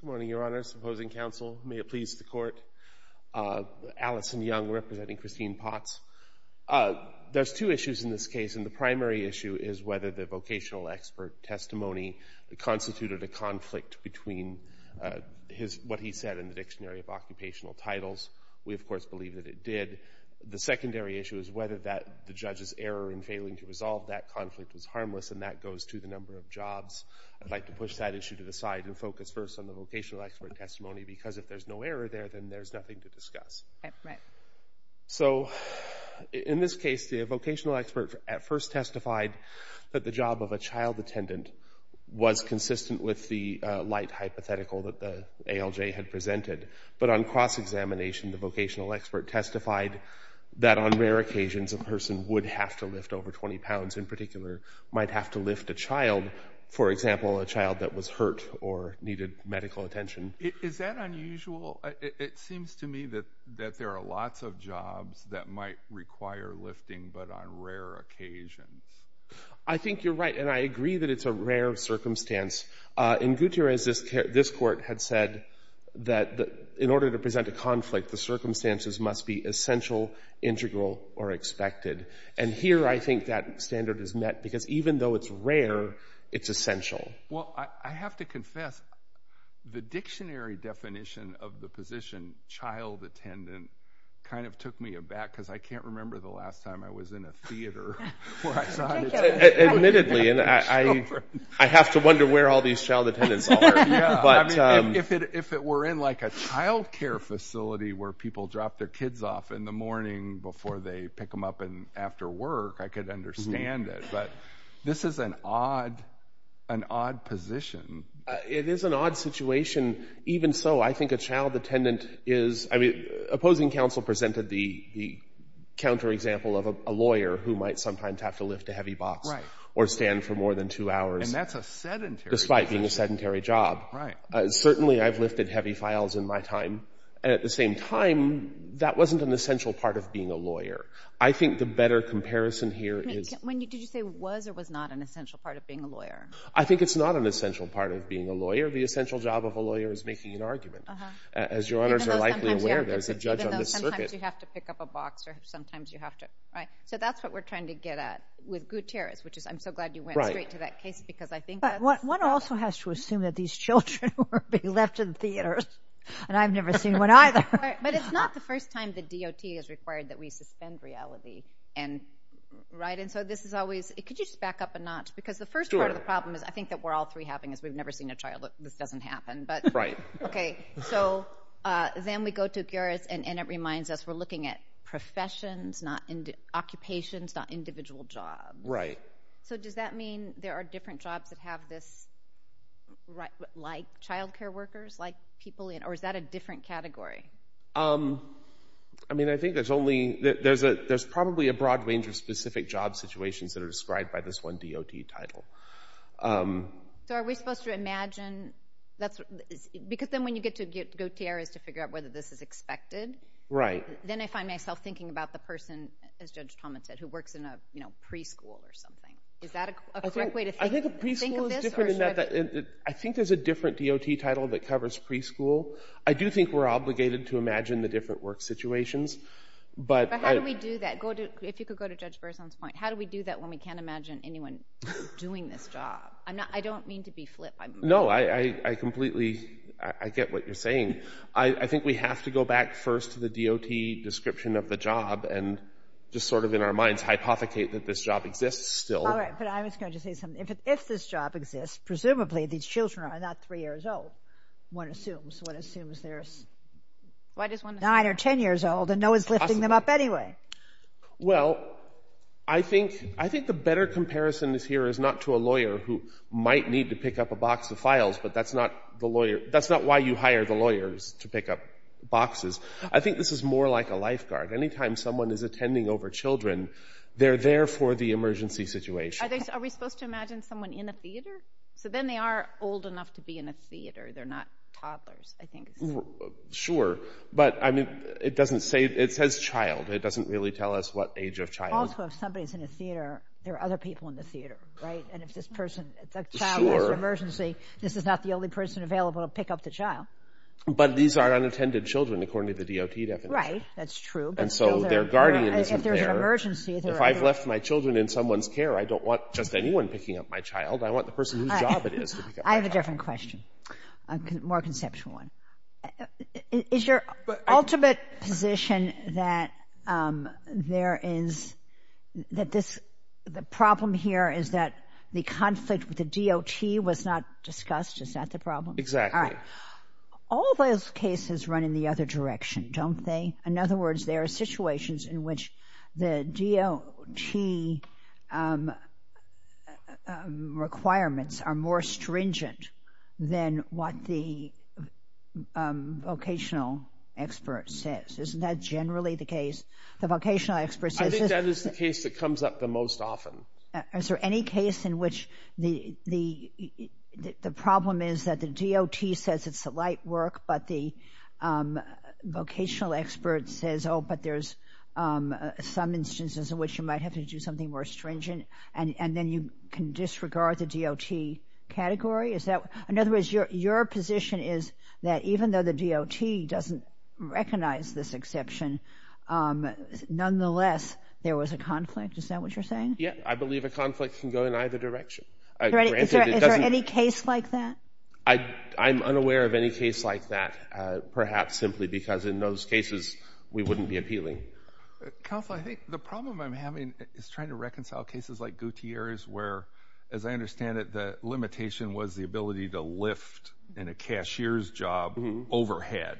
Good morning, Your Honor, supposing counsel, may it please the court, Allison Young representing Christine Potts. There are two issues in this case and the primary issue is whether the vocational expert testimony constituted a conflict between what he said in the Dictionary of Occupational Titles. We, of course, believe that it did. The secondary issue is whether the judge's error in failing to resolve that conflict is harmless and that goes to the number of jobs. I'd like to push that issue to the side and focus first on the vocational expert testimony because if there's no error there, then there's nothing to discuss. So in this case, the vocational expert at first testified that the job of a child attendant was consistent with the light hypothetical that the ALJ had presented. But on cross-examination, the vocational expert testified that on rare occasions, a person would have to lift over 20 pounds, in particular, might have to lift a child, for example, a child that was hurt or needed medical attention. Is that unusual? It seems to me that there are lots of jobs that might require lifting but on rare occasions. I think you're right and I agree that it's a rare circumstance. In Gutierrez, this court had said that in order to present a conflict, the circumstances must be essential, integral, or expected. And here, I think that standard is met because even though it's rare, it's essential. Well, I have to confess, the dictionary definition of the position, child attendant, kind of Admittedly, I have to wonder where all these child attendants are. If it were in like a child care facility where people drop their kids off in the morning before they pick them up and after work, I could understand it, but this is an odd position. It is an odd situation. Even so, I think a child attendant is, I mean, opposing counsel presented the counterexample of a lawyer who might sometimes have to lift a heavy box or stand for more than two hours despite being a sedentary job. Certainly, I've lifted heavy files in my time and at the same time, that wasn't an essential part of being a lawyer. I think the better comparison here is Did you say was or was not an essential part of being a lawyer? I think it's not an essential part of being a lawyer. The essential job of a lawyer is making an argument. As your honors are likely aware, there's a judge on this circuit. Sometimes you have to pick up a box or sometimes you have to, right? That's what we're trying to get at with Gutierrez, which is I'm so glad you went straight to that case because I think that's But one also has to assume that these children will be left in theaters and I've never seen one either. But it's not the first time the DOT has required that we suspend reality, right? This is always... Could you just back up a notch? Sure. Because the first part of the problem is I think that we're all three having as we've never seen a child. Look, this doesn't happen. Right. Okay. So then we go to Gutierrez and it reminds us we're looking at professions, not occupations, not individual jobs. Right. So does that mean there are different jobs that have this, like childcare workers, like people in... Or is that a different category? I mean, I think there's probably a broad range of specific job situations that are described by this one DOT title. So are we supposed to imagine... Because then when you get to Gutierrez to figure out whether this is expected, then I find myself thinking about the person, as Judge Thomas said, who works in a preschool or something. Is that a correct way to think of this? I think a preschool is different in that I think there's a different DOT title that covers preschool. I do think we're obligated to imagine the different work situations, but... But how do we do that? If you could go to Judge Berzon's point, how do we do that when we can't imagine anyone doing this job? I don't mean to be flip. No, I completely... I get what you're saying. I think we have to go back first to the DOT description of the job and just sort of in our minds, hypothecate that this job exists still. All right. But I was going to say something. If this job exists, presumably these children are not three years old. One assumes. One assumes they're nine or 10 years old and no one's lifting them up anyway. Well, I think the better comparison is here is not to a lawyer who might need to pick up a box of files, but that's not the lawyer... That's not why you hire the lawyers to pick up boxes. I think this is more like a lifeguard. Anytime someone is attending over children, they're there for the emergency situation. Are we supposed to imagine someone in a theater? So then they are old enough to be in a theater. They're not toddlers, I think. Sure. But I mean, it doesn't say... It says child. It doesn't really tell us what age of child. Also, if somebody's in a theater, there are other people in the theater, right? And if this person... Sure. If a child has an emergency, this is not the only person available to pick up the child. But these are unattended children according to the DOT definition. Right. That's true. And so their guardian isn't there. If there's an emergency... If I've left my children in someone's care, I don't want just anyone picking up my child. I want the person whose job it is to pick up my child. I have a different question, a more conceptual one. Is your ultimate position that the problem here is that the conflict with the DOT was not discussed? Is that the problem? Exactly. All right. All those cases run in the other direction, don't they? In other words, there are situations in which the DOT requirements are more stringent than what the vocational expert says. Isn't that generally the case? The vocational experts... I think that is the case that comes up the most often. Is there any case in which the problem is that the DOT says it's the light work, but the vocational expert says, oh, but there's some instances in which you might have to do something more stringent, and then you can disregard the DOT category? In other words, your position is that even though the DOT doesn't recognize this exception, nonetheless there was a conflict? Is that what you're saying? Yeah. I believe a conflict can go in either direction. Is there any case like that? I'm unaware of any case like that, perhaps simply because in those cases, we wouldn't be appealing. Counselor, I think the problem I'm having is trying to reconcile cases like Gutierrez where, as I understand it, the limitation was the ability to lift in a cashier's job overhead.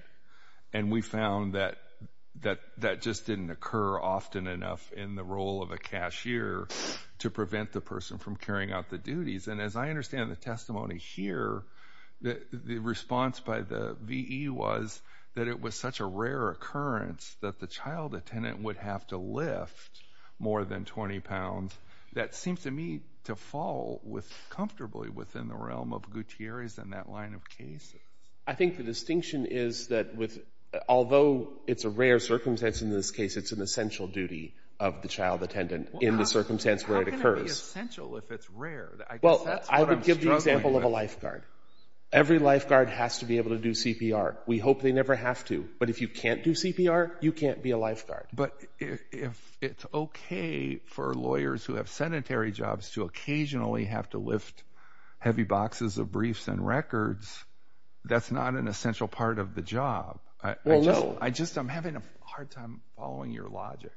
We found that that just didn't occur often enough in the role of a cashier to prevent the person from carrying out the duties. As I understand the testimony here, the response by the VE was that it was such a rare occurrence that the child attendant would have to lift more than 20 pounds. That seems to me to fall comfortably within the realm of Gutierrez and that line of cases. I think the distinction is that although it's a rare circumstance in this case, it's an essential duty of the child attendant in the circumstance where it occurs. How can it be essential if it's rare? I guess that's what I'm struggling with. Well, I would give the example of a lifeguard. Every lifeguard has to be able to do CPR. We hope they never have to. But if you can't do CPR, you can't be a lifeguard. But if it's okay for lawyers who have sedentary jobs to occasionally have to lift heavy boxes of briefs and records, that's not an essential part of the job. Well, no. I just am having a hard time following your logic.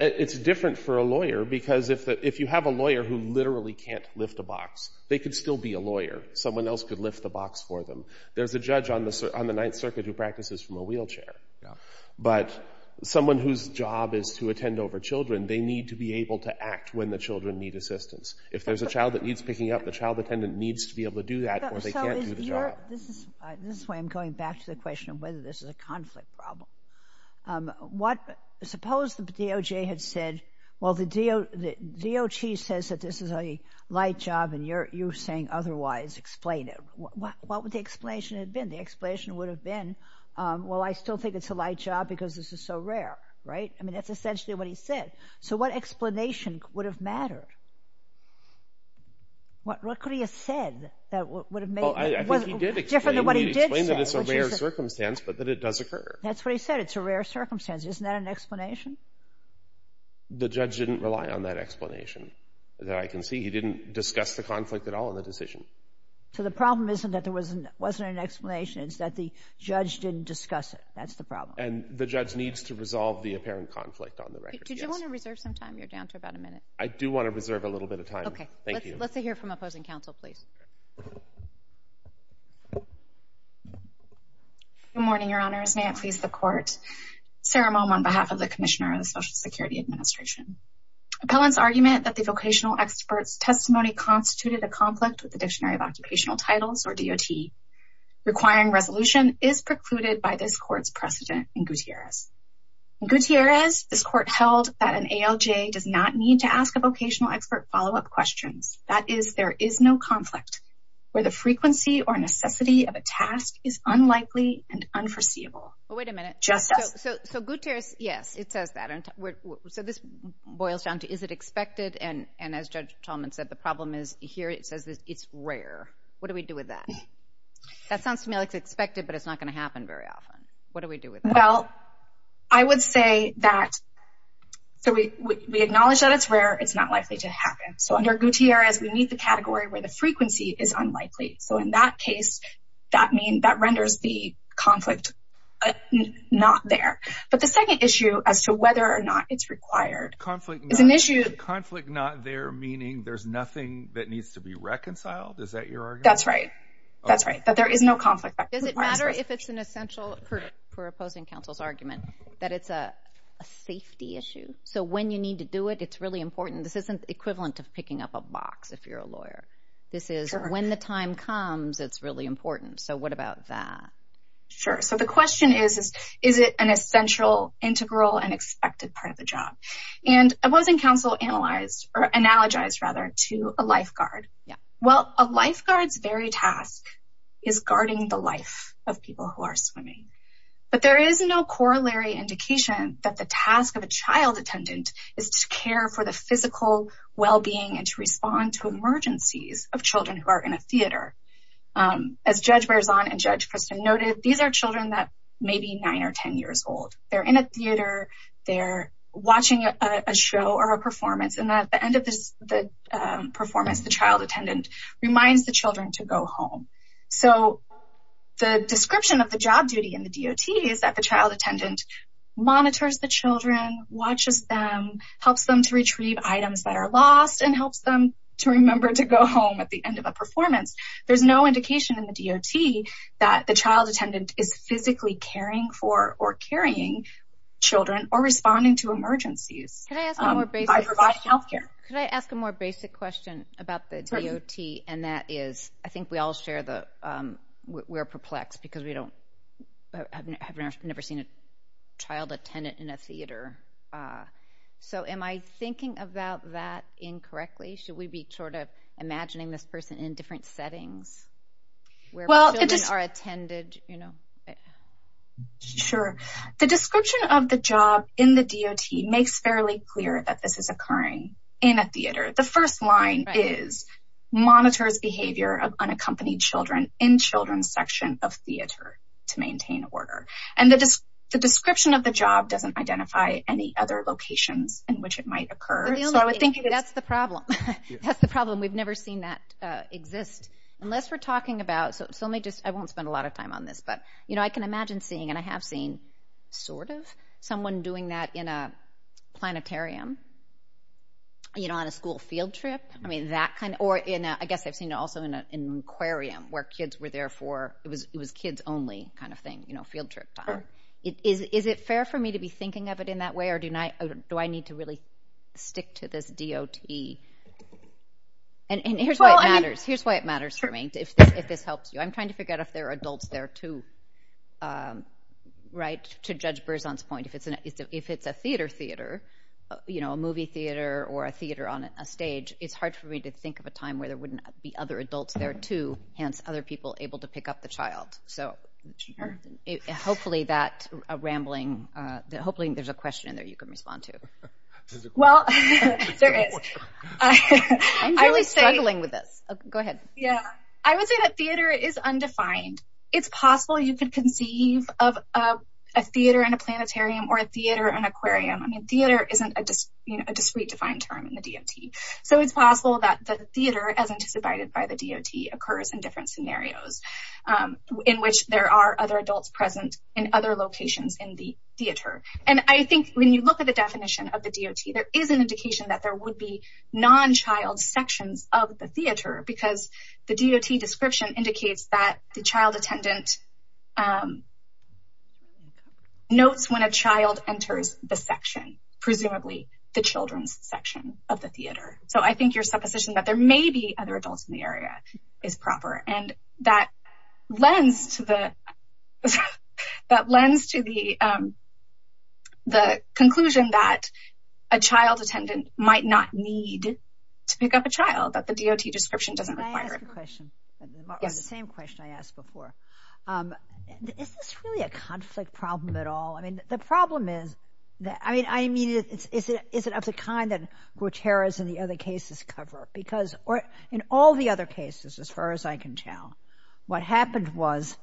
It's different for a lawyer because if you have a lawyer who literally can't lift a box, they could still be a lawyer. Someone else could lift the box for them. There's a judge on the Ninth Circuit who practices from a wheelchair. But someone whose job is to attend over children, they need to be able to act when the children need assistance. If there's a child that needs picking up, the child attendant needs to be able to do that or they can't do the job. This is why I'm going back to the question of whether this is a conflict problem. Suppose the DOJ had said, well, the DOG says that this is a light job and you're saying otherwise. Explain it. What would the explanation have been? The explanation would have been, well, I still think it's a light job because this is so rare. Right? I mean, that's essentially what he said. So what explanation would have mattered? What could he have said that would have made it different than what he did say? Well, I think he did explain that it's a rare circumstance, but that it does occur. That's what he said. It's a rare circumstance. Isn't that an explanation? The judge didn't rely on that explanation that I can see. He didn't discuss the conflict at all in the decision. So the problem isn't that there wasn't an explanation, it's that the judge didn't discuss it. That's the problem. And the judge needs to resolve the apparent conflict on the record. Did you want to reserve some time? You're down to about a minute. I do want to reserve a little bit of time. Okay. Thank you. Let's hear from opposing counsel, please. Good morning, Your Honors. May it please the Court. Sarah Moehm on behalf of the Commissioner of the Social Security Administration. Appellant's argument that the vocational expert's testimony constituted a conflict with the or DOT requiring resolution is precluded by this Court's precedent in Gutierrez. In Gutierrez, this Court held that an ALJ does not need to ask a vocational expert follow-up questions. That is, there is no conflict where the frequency or necessity of a task is unlikely and unforeseeable. Wait a minute. Justice. So Gutierrez, yes, it says that. So this boils down to, is it expected? And as Judge Talman said, the problem is here it says it's rare. What do we do with that? That sounds to me like it's expected, but it's not going to happen very often. What do we do with that? Well, I would say that, so we acknowledge that it's rare. It's not likely to happen. So under Gutierrez, we meet the category where the frequency is unlikely. So in that case, that renders the conflict not there. But the second issue as to whether or not it's required is an issue... Conflict not there, meaning there's nothing that needs to be reconciled? Is that your argument? That's right. That's right. That there is no conflict. Does it matter if it's an essential for opposing counsel's argument that it's a safety issue? So when you need to do it, it's really important. This isn't equivalent to picking up a box if you're a lawyer. This is when the time comes, it's really important. So what about that? Sure. So the question is, is it an essential, integral, and expected part of the job? And opposing counsel analyzed, or analogized rather, to a lifeguard. Well, a lifeguard's very task is guarding the life of people who are swimming. But there is no corollary indication that the task of a child attendant is to care for the physical well-being and to respond to emergencies of children who are in a theater. As Judge Berzon and Judge Christin noted, these are children that may be nine or ten years old. They're in a theater, they're watching a show or a performance, and at the end of the performance, the child attendant reminds the children to go home. So the description of the job duty in the DOT is that the child attendant monitors the children, watches them, helps them to retrieve items that are lost, and helps them to remember to go home at the end of a performance. There's no indication in the DOT that the child attendant is physically caring for or carrying children or responding to emergencies by providing health care. Could I ask a more basic question about the DOT? And that is, I think we all share that we're perplexed because we have never seen a child attendant in a theater. So am I thinking about that incorrectly? Should we be sort of imagining this person in different settings where children are attended? Sure. The description of the job in the DOT makes fairly clear that this is occurring in a theater. The first line is, monitors behavior of unaccompanied children in children's section of theater to maintain order. And the description of the job doesn't identify any other locations in which it might occur. That's the problem. That's the problem. We've never seen that exist unless we're talking about, so let me just, I won't spend a lot of time on this, but you know, I can imagine seeing, and I have seen sort of, someone doing that in a planetarium, you know, on a school field trip. I mean, that kind of, or in a, I guess I've seen it also in an aquarium where kids were there for, it was kids only kind of thing, you know, field trip time. Is it fair for me to be thinking of it in that way, or do I need to really stick to this DOT? And here's why it matters, here's why it matters for me, if this helps you. I'm trying to figure out if there are adults there too, right? To Judge Berzon's point, if it's a theater theater, you know, a movie theater or a theater on a stage, it's hard for me to think of a time where there wouldn't be other adults there too, hence other people able to pick up the child. So hopefully that rambling, hopefully there's a question in there you can respond to. Well, there is. I'm really struggling with this. Go ahead. Yeah. I would say that theater is undefined. It's possible you could conceive of a theater and a planetarium or a theater and aquarium. I mean, theater isn't a discrete defined term in the DOT. So it's possible that the theater as anticipated by the DOT occurs in different scenarios in which there are other adults present in other locations in the theater. And I think when you look at the definition of the DOT, there is an indication that there would be non-child sections of the theater because the DOT description indicates that the child attendant notes when a child enters the section, presumably the children's section of the theater. So I think your supposition that there may be other adults in the area is proper. And that lends to the conclusion that a child attendant might not need to pick up a child, that the DOT description doesn't require it. Can I ask a question? Yes. The same question I asked before. Is this really a conflict problem at all? I mean, the problem is that, I mean, is it of the kind that Guterres and the other cases cover? Because in all the other cases, as far as I can tell, what happened was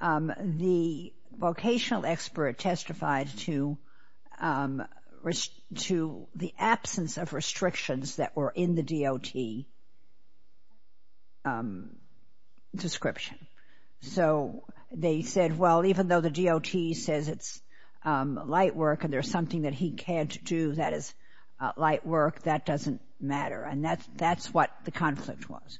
the vocational expert testified to the absence of restrictions that were in the DOT description. So they said, well, even though the DOT says it's light work and there's something that he can't do that is light work, that doesn't matter. And that's what the conflict was.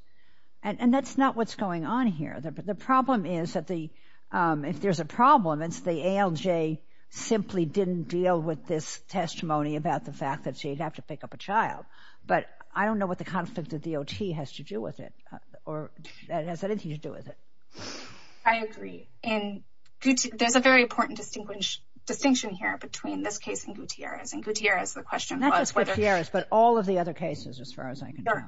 And that's not what's going on here. The problem is that if there's a problem, it's the ALJ simply didn't deal with this testimony about the fact that she'd have to pick up a child. But I don't know what the conflict of DOT has to do with it, or that it has anything to do with it. I agree. And there's a very important distinction here between this case and Guterres. And Guterres, the question was whether... Not just Guterres, but all of the other cases, as far as I can tell.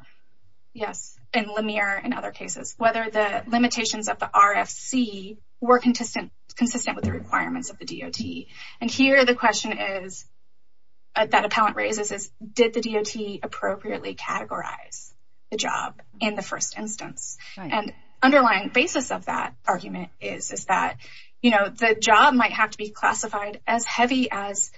Yes. And Lemire and other cases. Whether the limitations of the RFC were consistent with the requirements of the DOT. And here the question is, that appellant raises is, did the DOT appropriately categorize the job in the first instance? And underlying basis of that argument is that the job might have to be classified as heavy as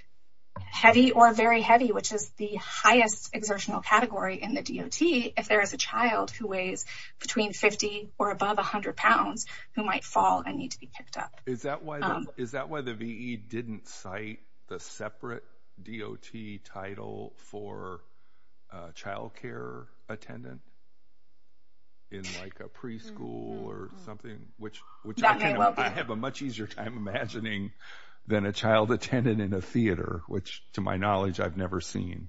heavy or very heavy, which is the highest exertional category in the DOT if there is a child who weighs between 50 or above 100 pounds who might fall and need to be picked up. Is that why the VE didn't cite the separate DOT title for child care attendant in like a preschool or something? That may well be. Which I have a much easier time imagining than a child attendant in a theater, which to my knowledge I've never seen.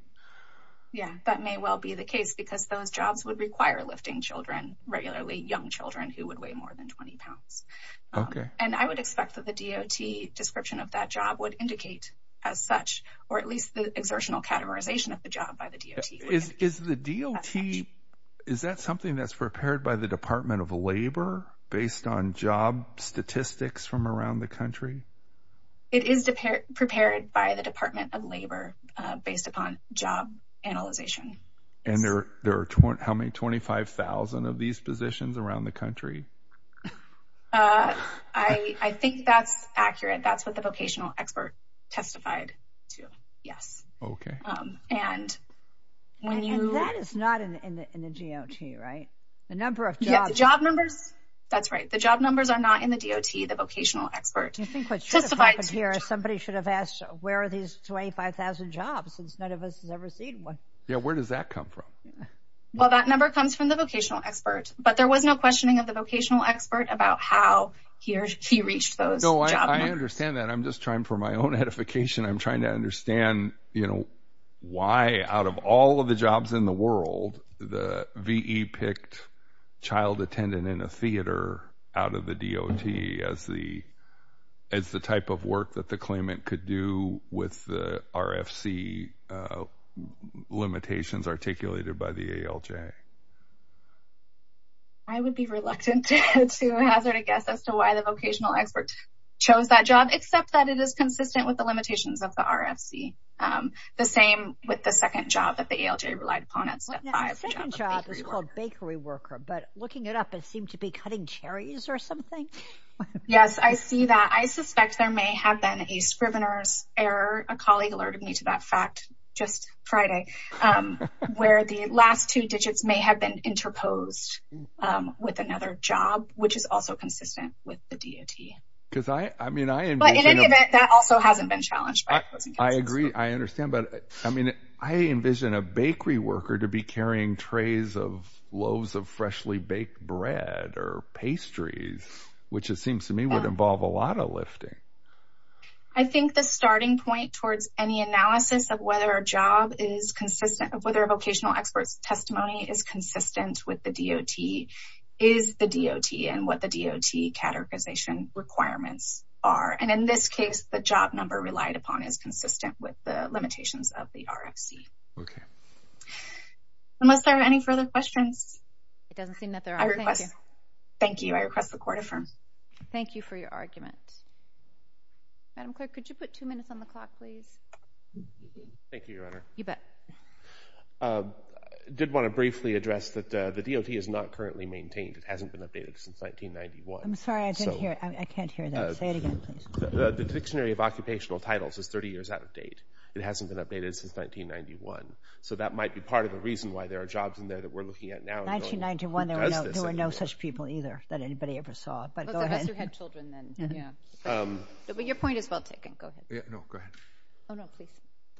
Yeah. That may well be the case because those jobs would require lifting children, regularly young children who would weigh more than 20 pounds. Okay. And I would expect that the DOT description of that job would indicate as such, or at least the exertional categorization of the job by the DOT. Is the DOT, is that something that's prepared by the Department of Labor based on job statistics from around the country? It is prepared by the Department of Labor based upon job analyzation. And there are how many, 25,000 of these positions around the country? I think that's accurate. That's what the vocational expert testified to, yes. Okay. And when you... And that is not in the DOT, right? The number of jobs... You have the job numbers? That's right. The job numbers are not in the DOT. The vocational expert testified... Do you think what should have happened here is somebody should have asked where are these 25,000 jobs since none of us has ever seen one? Yeah. Where does that come from? Well, that number comes from the vocational expert. But there was no questioning of the vocational expert about how he reached those job numbers. No, I understand that. I'm just trying for my own edification. I'm trying to understand, you know, why out of all of the jobs in the world, the VE picked child attendant in a theater out of the DOT as the type of work that the claimant could do with the RFC limitations articulated by the ALJ? I would be reluctant to hazard a guess as to why the vocational expert chose that job, except that it is consistent with the limitations of the RFC. The same with the second job that the ALJ relied upon at step five. The second job is called bakery worker, but looking it up, it seemed to be cutting cherries or something. Yes, I see that. I suspect there may have been a scrivener's error. A colleague alerted me to that fact just Friday, where the last two digits may have been interposed with another job, which is also consistent with the DOT. But in any event, that also hasn't been challenged. I agree. I understand. But I mean, I envision a bakery worker to be carrying trays of loaves of freshly baked bread or pastries, which it seems to me would involve a lot of lifting. I think the starting point towards any analysis of whether a job is consistent, whether a vocational expert's testimony is consistent with the DOT is the DOT and what the DOT categorization requirements are. And in this case, the job number relied upon is consistent with the limitations of the RFC. Okay. Unless there are any further questions. It doesn't seem that there are. Thank you. Thank you. I request the court affirms. Thank you for your argument. Madam Clerk, could you put two minutes on the clock, please? Thank you, Your Honor. You bet. I did want to briefly address that the DOT is not currently maintained. It hasn't been updated since 1991. I'm sorry. I can't hear that. Say it again, please. The Dictionary of Occupational Titles is 30 years out of date. It hasn't been updated since 1991. So that might be part of the reason why there are jobs in there that we're looking at now. In 1991, there were no such people either that anybody ever saw. But go ahead. Unless you had children then. Yeah. But your point is well taken. Go ahead. No. Go ahead. Oh, no. Please.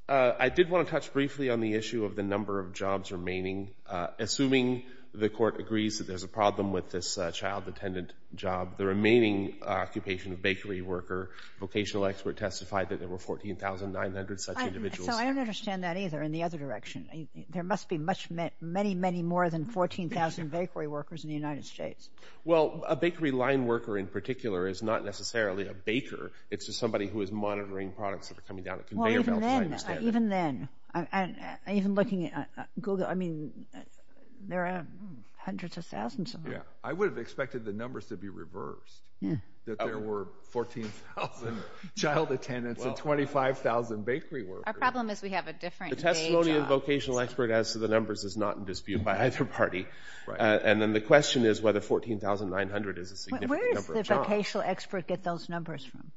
I did want to touch briefly on the issue of the number of jobs remaining. Assuming the court agrees that there's a problem with this child attendant job, the remaining occupation of bakery worker, vocational expert testified that there were 14,900 such individuals. So I don't understand that either in the other direction. There must be many, many more than 14,000 bakery workers in the United States. Well, a bakery line worker in particular is not necessarily a baker. It's just somebody who is monitoring products that are coming down the conveyor belt, if I understand it. Well, even then, even looking at Google, I mean, there are hundreds of thousands of them. Yeah. I would have expected the numbers to be reversed, that there were 14,000 child attendants and 25,000 bakery workers. Our problem is we have a different day job. The testimony of the vocational expert as to the numbers is not in dispute by either party. Right. And then the question is whether 14,900 is a significant number of jobs. Where does the vocational expert get those numbers from?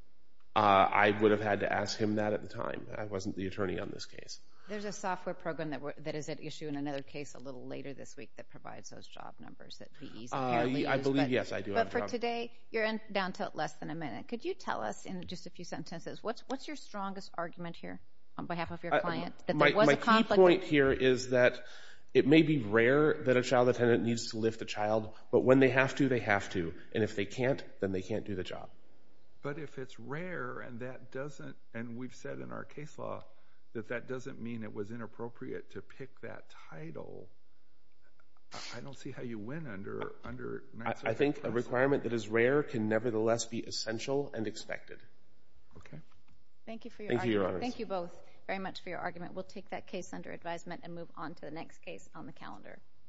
I would have had to ask him that at the time. I wasn't the attorney on this case. There's a software program that is at issue in another case a little later this week that provides those job numbers that these apparently use. I believe, yes, I do have a job. But for today, you're down to less than a minute. Could you tell us in just a few sentences, what's your strongest argument here? On behalf of your client, that there was a conflict. My key point here is that it may be rare that a child attendant needs to lift a child, but when they have to, they have to. And if they can't, then they can't do the job. But if it's rare and that doesn't, and we've said in our case law, that that doesn't mean it was inappropriate to pick that title, I don't see how you win under Mass Effect. I think a requirement that is rare can nevertheless be essential and expected. Okay. Thank you for your argument. Thank you both very much for your argument. We'll take that case under advisement and move on to the next case on the calendar.